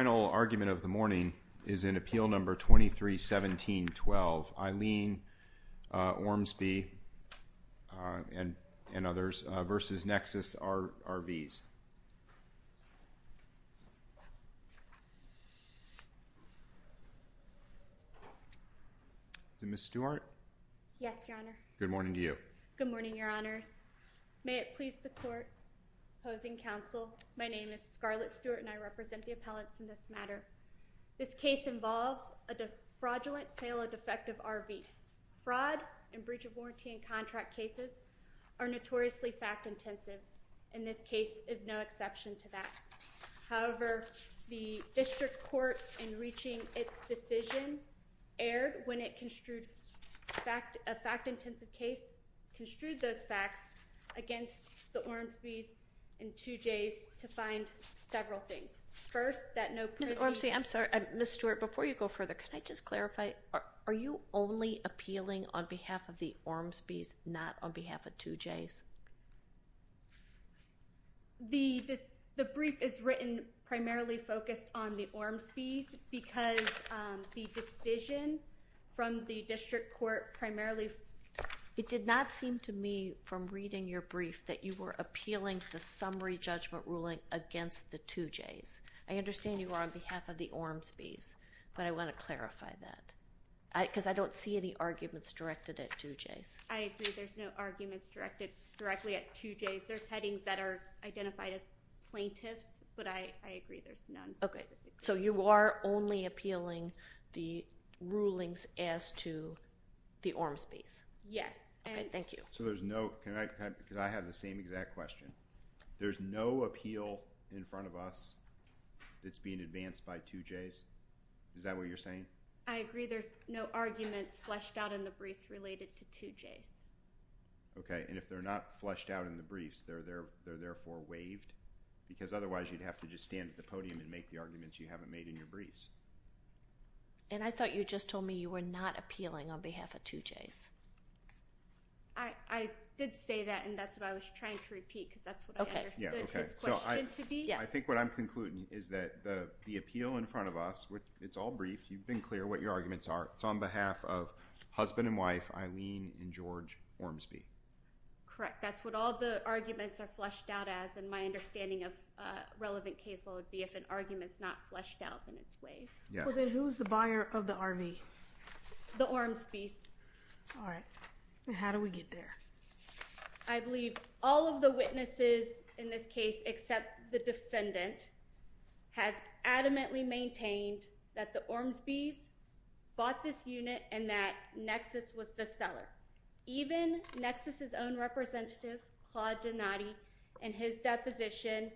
The final argument of the morning is in Appeal No. 23-17-12, Aileen Ormsby v. Nexus RVs. Ms. Stewart? Yes, Your Honor. Good morning to you. Good morning, Your Honors. May it please the Court, Opposing Counsel, my name is Scarlett Stewart and I represent the appellants in this matter. This case involves a fraudulent sale of defective RVs. Fraud and breach of warranty in contract cases are notoriously fact-intensive and this case is no exception to that. However, the District Court in reaching its decision erred when a fact-intensive case construed those facts against the Ormsby's and 2J's to find several things. Ms. Ormsby, I'm sorry, Ms. Stewart, before you go further, can I just clarify, are you only appealing on behalf of the Ormsby's, not on behalf of 2J's? The brief is written primarily focused on the Ormsby's because the decision from the reading your brief that you were appealing the summary judgment ruling against the 2J's. I understand you are on behalf of the Ormsby's, but I want to clarify that because I don't see any arguments directed at 2J's. I agree. There's no arguments directed directly at 2J's. There's headings that are identified as plaintiffs, but I agree there's none. Okay. So you are only appealing the rulings as to the Ormsby's? Yes. Okay. Thank you. So there's no, can I, because I have the same exact question. There's no appeal in front of us that's being advanced by 2J's? Is that what you're saying? I agree there's no arguments fleshed out in the briefs related to 2J's. Okay. And if they're not fleshed out in the briefs, they're therefore waived? Because otherwise you'd have to just stand at the podium and make the arguments you haven't made in your briefs. And I thought you just told me you were not appealing on behalf of 2J's. I did say that, and that's what I was trying to repeat because that's what I understood his question to be. I think what I'm concluding is that the appeal in front of us, it's all brief, you've been clear what your arguments are, it's on behalf of husband and wife, Eileen and George Ormsby. Correct. That's what all the arguments are fleshed out as, and my understanding of a relevant case law would be if an argument's not fleshed out, then it's waived. Well, then who's the buyer of the RV? The Ormsby's. All right. And how do we get there? I believe all of the witnesses in this case except the defendant has adamantly maintained that the Ormsby's bought this unit and that Nexus was the seller. Even Nexus's own representative, Claude Donati, in his deposition,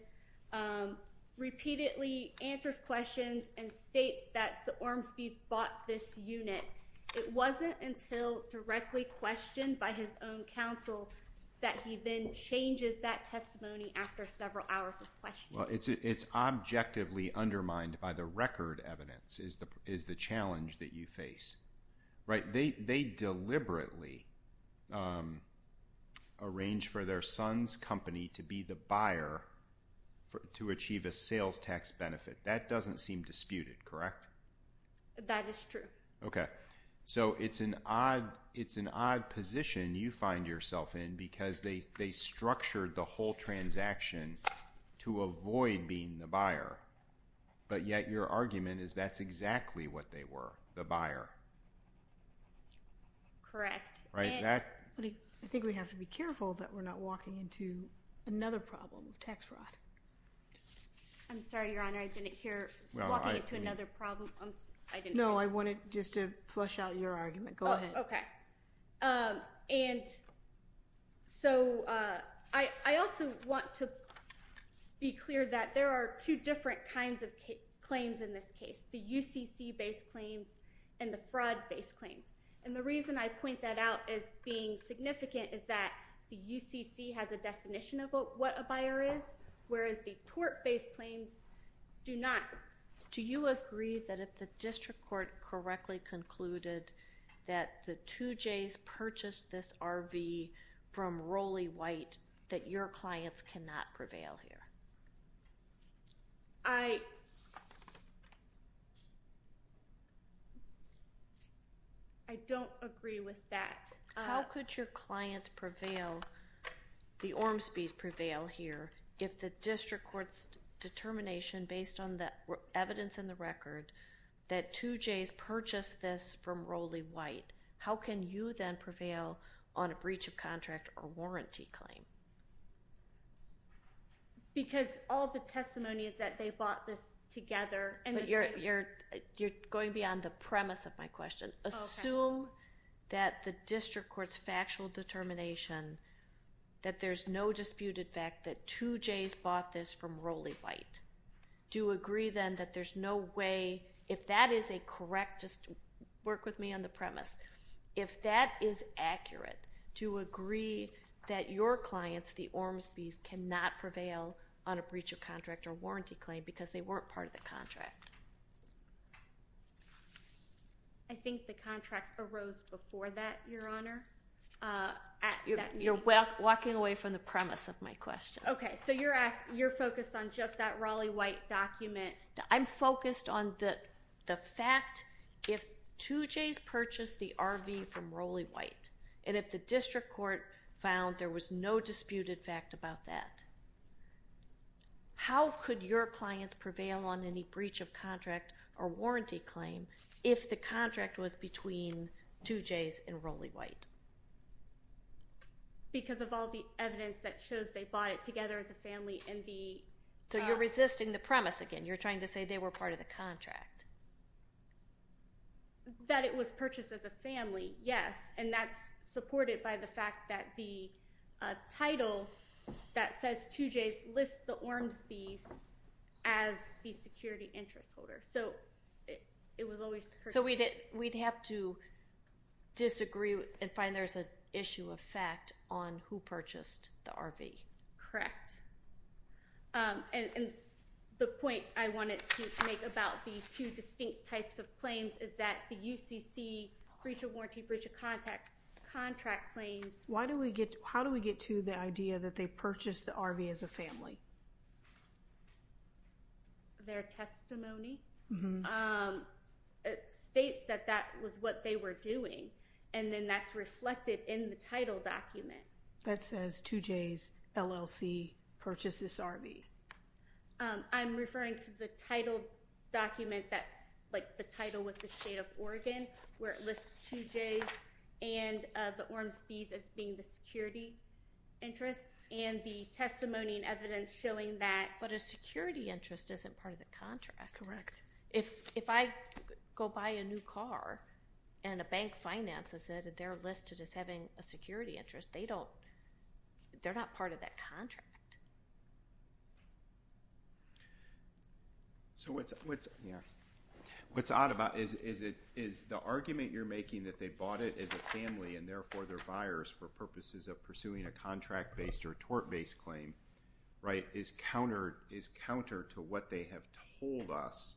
repeatedly answers questions and states that the Ormsby's bought this unit. It wasn't until directly questioned by his own counsel that he then changes that testimony after several hours of questioning. Well, it's objectively undermined by the record evidence is the challenge that you face. Right? They deliberately arranged for their son's company to be the buyer to achieve a sales tax benefit. That doesn't seem disputed, correct? That is true. Okay. So it's an odd position you find yourself in because they structured the whole transaction to avoid being the buyer, but yet your argument is that's exactly what they were, the buyer. Correct. Right? I think we have to be careful that we're not walking into another problem of tax fraud. I'm sorry, Your Honor. I didn't hear walking into another problem. No, I wanted just to flush out your argument. Go ahead. Okay. And so I also want to be clear that there are two different kinds of claims in this case, the UCC-based claims and the fraud-based claims. And the reason I point that out as being significant is that the UCC has a definition of what a buyer is, whereas the tort-based claims do not. Do you agree that if the district court correctly concluded that the 2Js purchased this RV from Roley White that your clients cannot prevail here? I don't agree with that. How could your clients prevail, the Ormsbys prevail here if the district court's determination based on the evidence in the record that 2Js purchased this from Roley White? How can you then prevail on a breach of contract or warranty claim? Because all of the testimony is that they bought this together. But you're going beyond the premise of my question. Okay. Assume that the district court's factual determination that there's no disputed fact that 2Js bought this from Roley White. Do you agree then that there's no way, if that is a correct, just work with me on the premise, if that is accurate, do you agree that your clients, the Ormsbys, cannot prevail on a breach of contract or warranty claim because they weren't part of the contract? I think the contract arose before that, Your Honor. You're walking away from the premise of my question. Okay. So you're focused on just that Roley White document. I'm focused on the fact if 2Js purchased the RV from Roley White and if the district court found there was no disputed fact about that, how could your clients prevail on any breach of contract or warranty claim if the contract was between 2Js and Roley White? Because of all the evidence that shows they bought it together as a family and the... So you're resisting the premise again. You're trying to say they were part of the contract. That it was purchased as a family, yes. And that's supported by the fact that the title that says 2Js lists the Ormsbys as the security interest holder. So it was always purchased... So we'd have to disagree and find there's an issue of fact on who purchased the RV. Correct. And the point I wanted to make about these two distinct types of claims is that the UCC breach of warranty, breach of contract claims... How do we get to the idea that they purchased the RV as a family? Their testimony? States that that was what they were doing and then that's reflected in the title document. That says 2Js LLC purchased this RV. I'm referring to the title document that's like the title with the state of Oregon where it lists 2Js and the Ormsbys as being the security interest and the testimony and evidence showing that... But a security interest isn't part of the contract. Correct. If I go buy a new car and a bank finances it and they're listed as having a security interest, they're not part of that contract. What's odd about it is the argument you're making that they bought it as a family and therefore they're buyers for purposes of pursuing a contract-based or tort-based claim is counter to what they have told us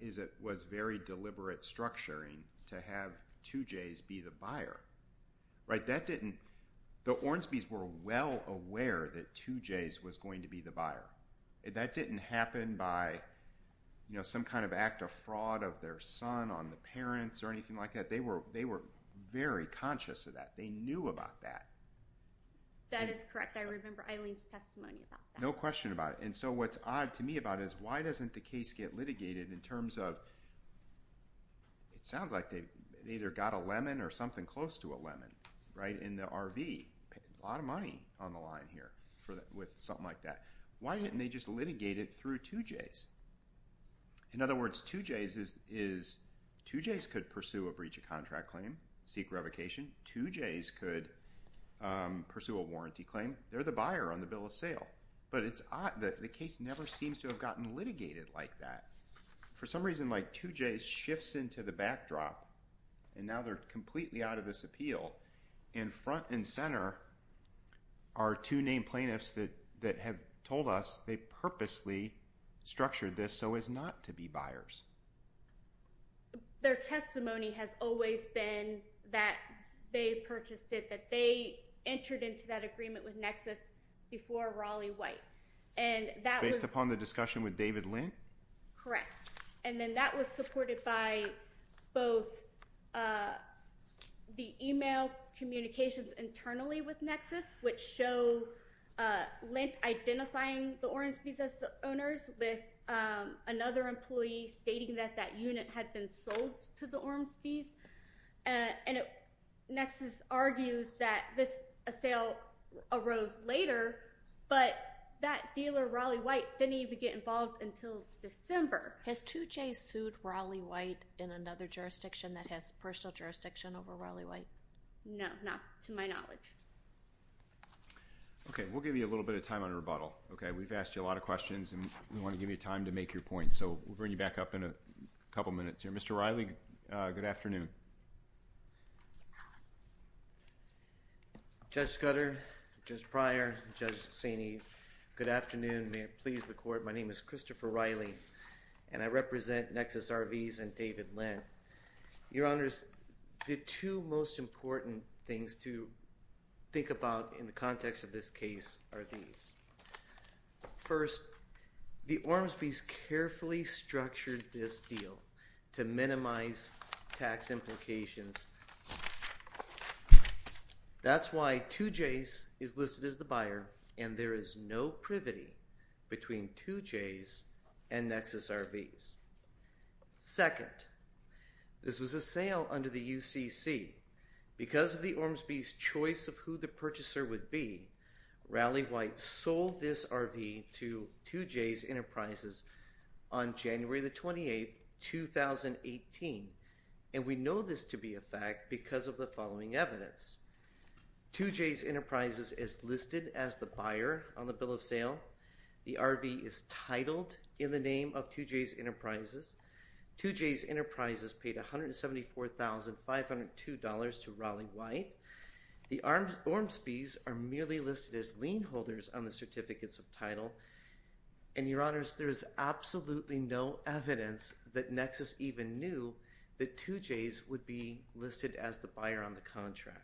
is it was very deliberate structuring to have 2Js be the buyer. The Ormsbys were well aware that 2Js was going to be the buyer. That didn't happen by some kind of act of fraud of their son on the parents or anything like that. They were very conscious of that. They knew about that. That is correct. I remember Eileen's testimony about that. No question about it. What's odd to me about it is why doesn't the case get litigated in terms of... It sounds like they either got a lemon or something close to a lemon in the RV. A lot of money on the line here with something like that. Why didn't they just litigate it through 2Js? In other words, 2Js could pursue a breach of contract claim, seek revocation. 2Js could pursue a warranty claim. They're the buyer on the bill of sale. It's odd that the case never seems to have gotten litigated like that. For some reason, 2Js shifts into the backdrop and now they're completely out of this appeal. Front and center are two named plaintiffs that have told us they purposely structured this so as not to be buyers. Their testimony has always been that they purchased it, that they entered into that agreement with Nexus before Raleigh White. Based upon the discussion with David Lent? Correct. That was supported by both the email communications internally with Nexus, which show Lent identifying the Ormsby's as the owners with another employee stating that that unit had been sold to the Ormsby's. Nexus argues that this sale arose later, but that dealer, Raleigh White, didn't even get involved until December. Has 2Js sued Raleigh White in another jurisdiction that has personal jurisdiction over Raleigh White? No, not to my knowledge. We'll give you a little bit of time on rebuttal. We've asked you a lot of questions and we want to give you time to make your points. We'll bring you back up in a couple minutes. Mr. Raleigh, good afternoon. Judge Scudder, Judge Pryor, Judge Saini, good afternoon. May it please the Court, my name is Christopher Raleigh and I represent Nexus RVs and David Lent. Your Honors, the two most important things to think about in the context of this case are these. First, the Ormsby's carefully structured this deal to minimize tax implications. That's why 2Js is listed as the buyer and there is no privity between 2Js and Nexus RVs. Second, this was a sale under the UCC. Because of the Ormsby's choice of who the purchaser would be, Raleigh White sold this RV to 2Js Enterprises on January the 28th, 2018. And we know this to be a fact because of the following evidence. 2Js Enterprises is listed as the buyer on the bill of sale. The RV is titled in the name of 2Js Enterprises. 2Js Enterprises paid $174,502 to Raleigh White. The Ormsby's are merely listed as lien holders on the certificates of title. And Your Honors, there is absolutely no evidence that Nexus even knew that 2Js would be listed as the buyer on the contract.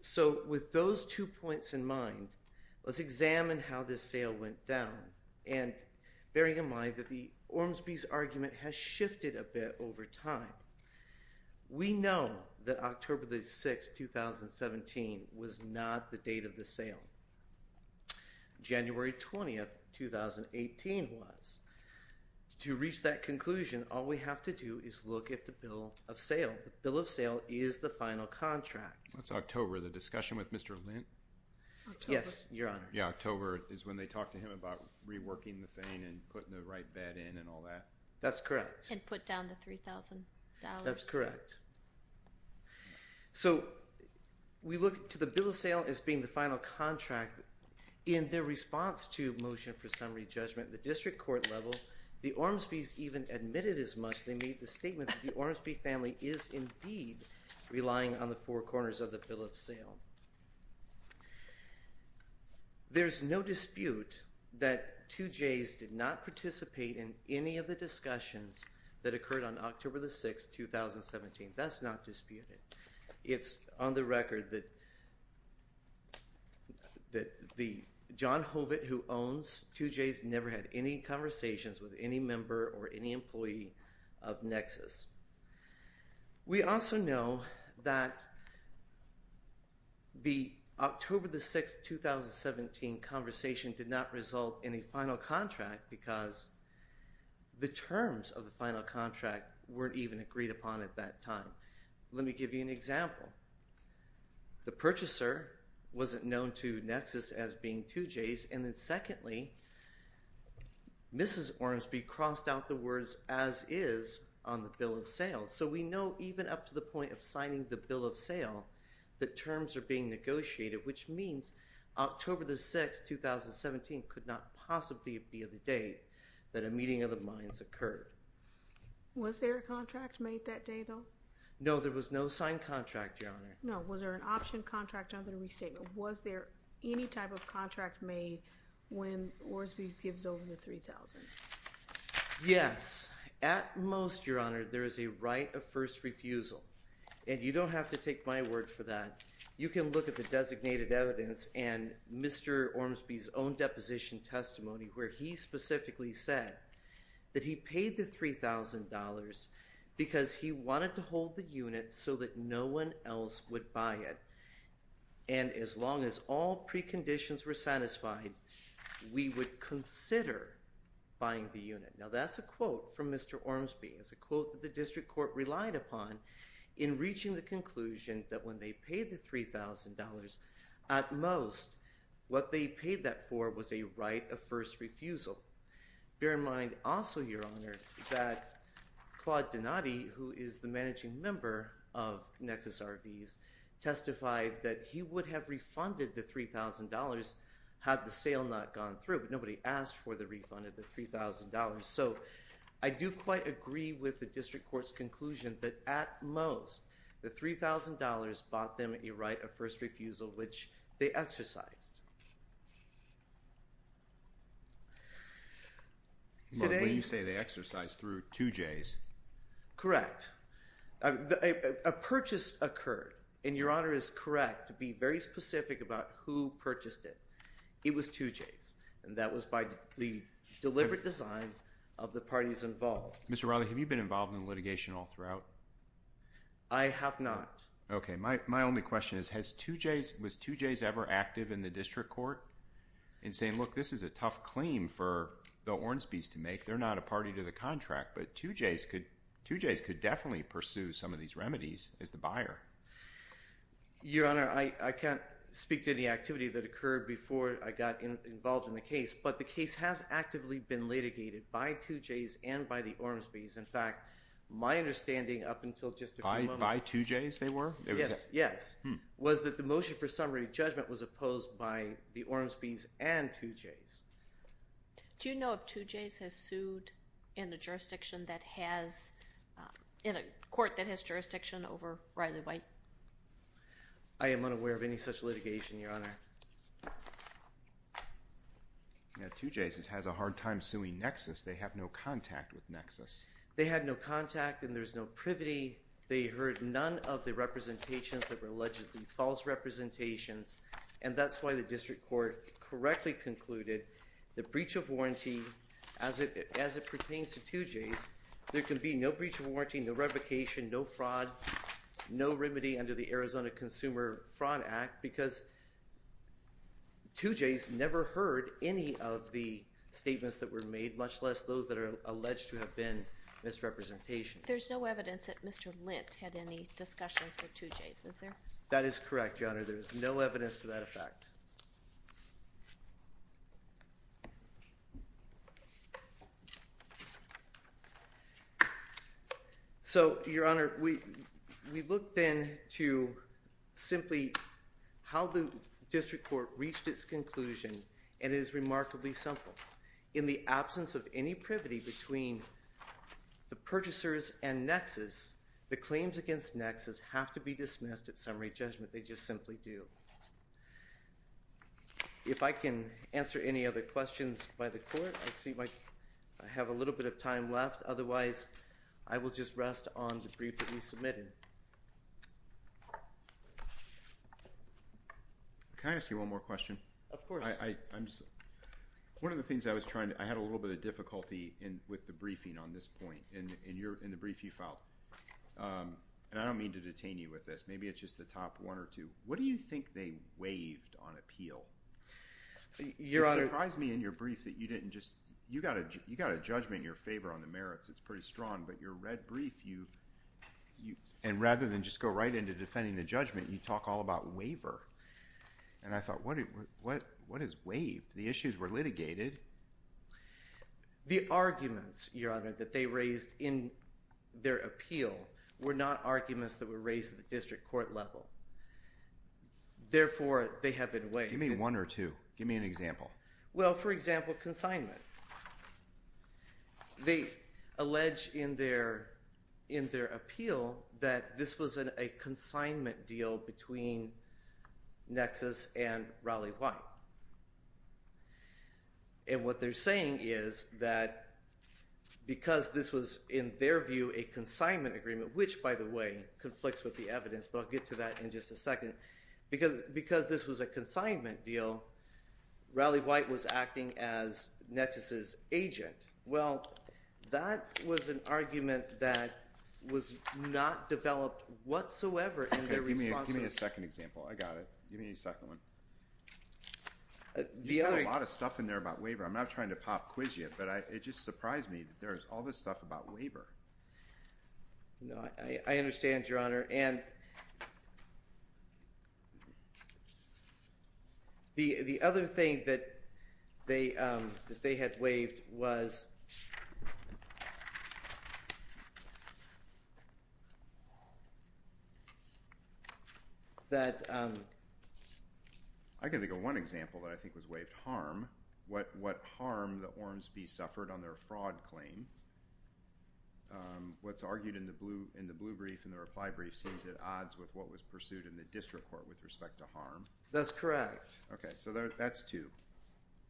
So with those two points in mind, let's examine how this sale went down. And bearing in mind that the Ormsby's argument has shifted a bit over time. We know that October the 6th, 2017 was not the date of the sale. January 20th, 2018 was. To reach that conclusion, all we have to do is look at the bill of sale. And the bill of sale is the final contract. That's October, the discussion with Mr. Lent. Yes, Your Honor. Yeah, October is when they talked to him about reworking the thing and putting the right bed in and all that. That's correct. And put down the $3,000. That's correct. So we look to the bill of sale as being the final contract. In their response to motion for summary judgment at the district court level, the Ormsby's even admitted as much. They made the statement that the Ormsby family is indeed relying on the four corners of the bill of sale. There's no dispute that 2J's did not participate in any of the discussions that occurred on October the 6th, 2017. That's not disputed. It's on the record that the John Hobbit who owns 2J's never had any conversations with any member or any employee of Nexus. We also know that the October the 6th, 2017 conversation did not result in a final contract because the terms of the final contract weren't even agreed upon at that time. Let me give you an example. The purchaser wasn't known to Nexus as being 2J's. And then secondly, Mrs. Ormsby crossed out the words, as is, on the bill of sale. So we know even up to the point of signing the bill of sale, the terms are being negotiated. Which means October the 6th, 2017 could not possibly be the day that a meeting of the minds occurred. Was there a contract made that day, though? No, there was no signed contract, Your Honor. No. Was there an option contract under the statement? Was there any type of contract made when Ormsby gives over the $3,000? Yes. At most, Your Honor, there is a right of first refusal. And you don't have to take my word for that. You can look at the designated evidence and Mr. Ormsby's own deposition testimony where he specifically said that he paid the $3,000 because he wanted to hold the unit so that no one else would buy it. And as long as all preconditions were satisfied, we would consider buying the unit. Now that's a quote from Mr. Ormsby. It's a quote that the district court relied upon in reaching the conclusion that when they paid the $3,000, at most, what they paid that for was a right of first refusal. Bear in mind also, Your Honor, that Claude Donati, who is the managing member of Nexus RVs, testified that he would have refunded the $3,000 had the sale not gone through, but nobody asked for the refund of the $3,000. So I do quite agree with the district court's conclusion that at most, the $3,000 bought them a right of first refusal, which they exercised. Mark, when you say they exercised, through 2Js? Correct. A purchase occurred, and Your Honor is correct to be very specific about who purchased it. It was 2Js, and that was by the deliberate design of the parties involved. Mr. Rowley, have you been involved in litigation all throughout? I have not. Okay. My only question is, was 2Js ever active in the district court in saying, look, this is a tough claim for the Ormsby's to make? They're not a party to the contract, but 2Js could definitely pursue some of these remedies as the buyer. Your Honor, I can't speak to any activity that occurred before I got involved in the case, but the case has actively been litigated by 2Js and by the Ormsby's. In fact, my understanding up until just a few moments— By 2Js, they were? Yes. Yes. Was that the motion for summary judgment was opposed by the Ormsby's and 2Js. Do you know if 2Js has sued in a court that has jurisdiction over Riley-White? I am unaware of any such litigation, Your Honor. Okay. 2Js has a hard time suing Nexus. They have no contact with Nexus. They had no contact and there's no privity. They heard none of the representations that were allegedly false representations, and that's why the district court correctly concluded the breach of warranty, as it pertains to 2Js, there can be no breach of warranty, no revocation, no fraud, no remedy under the Arizona Consumer Fraud Act because 2Js never heard any of the statements that were made, much less those that are alleged to have been misrepresentations. There's no evidence that Mr. Lint had any discussions with 2Js, is there? That is correct, Your Honor. There is no evidence to that effect. So, Your Honor, we looked then to simply how the district court reached its conclusion and it is remarkably simple. In the absence of any privity between the purchasers and Nexus, the claims against Nexus have to be dismissed at summary judgment. They just simply do. If I can answer any other questions by the court, I see I have a little bit of time left. Otherwise, I will just rest on the brief that you submitted. Can I ask you one more question? Of course. One of the things I was trying to—I had a little bit of difficulty with the briefing on this point. In the brief you filed—and I don't mean to detain you with this. Maybe it's just the top one or two. What do you think they waived on appeal? It surprised me in your brief that you didn't just—you got a judgment in your favor on the merits. It's pretty strong. But your red brief, you—and rather than just go right into defending the judgment, you talk all about waiver. And I thought, what is waived? The issues were litigated. The arguments, Your Honor, that they raised in their appeal were not arguments that were raised at the district court level. Therefore, they have been waived. Give me one or two. Give me an example. Well, for example, consignment. They allege in their appeal that this was a consignment deal between Nexus and Raleigh White. And what they're saying is that because this was, in their view, a consignment agreement, which, by the way, conflicts with the evidence, but I'll get to that in just a second. Because this was a consignment deal, Raleigh White was acting as Nexus's agent. Well, that was an argument that was not developed whatsoever in their response to— Give me a second example. I got it. Give me a second one. You said a lot of stuff in there about waiver. I'm not trying to pop quiz you, but it just surprised me that there's all this stuff about waiver. I understand, Your Honor. And the other thing that they had waived was that— I can think of one example that I think was waived, harm. What harm the Ormsby suffered on their fraud claim. What's argued in the blue brief and the reply brief says it odds with what was pursued in the district court with respect to harm. That's correct. Okay. So that's two.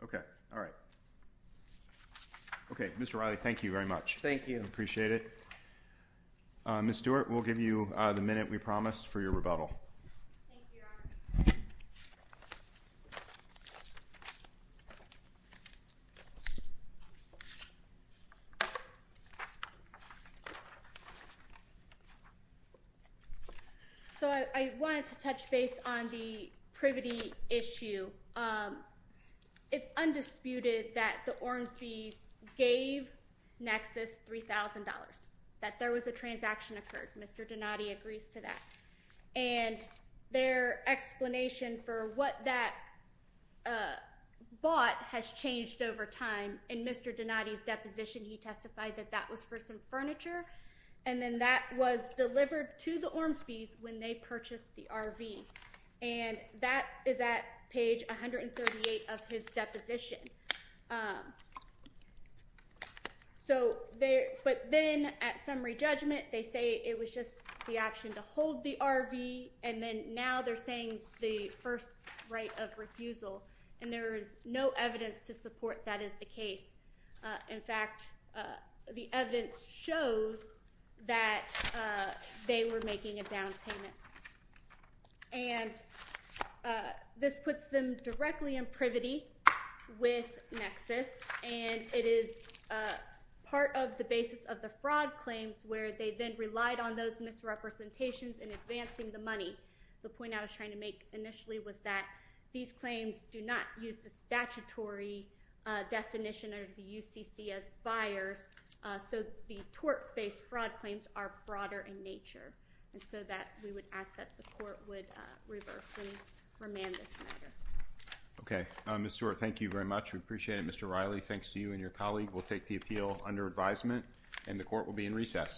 Okay. All right. Okay. Mr. Raleigh, thank you very much. Thank you. Appreciate it. Thank you, Your Honor. So I wanted to touch base on the privity issue. It's undisputed that the Ormsby's gave Nexus $3,000, that there was a transaction occurred. Mr. Donati agrees to that. And their explanation for what that bought has changed over time. In Mr. Donati's deposition, he testified that that was for some furniture. And then that was delivered to the Ormsby's when they purchased the RV. And that is at page 138 of his deposition. But then at summary judgment, they say it was just the option to hold the RV. And then now they're saying the first right of refusal. And there is no evidence to support that is the case. In fact, the evidence shows that they were making a down payment. And this puts them directly in privity with Nexus. And it is part of the basis of the fraud claims where they then relied on those misrepresentations in advancing the money. The point I was trying to make initially was that these claims do not use the statutory definition of the UCC as buyers. So the tort-based fraud claims are broader in nature. And so that we would ask that the court would reverse and remand this measure. Okay. Ms. Stewart, thank you very much. We appreciate it. Mr. Riley, thanks to you and your colleague. We'll take the appeal under advisement. And the court will be in recess.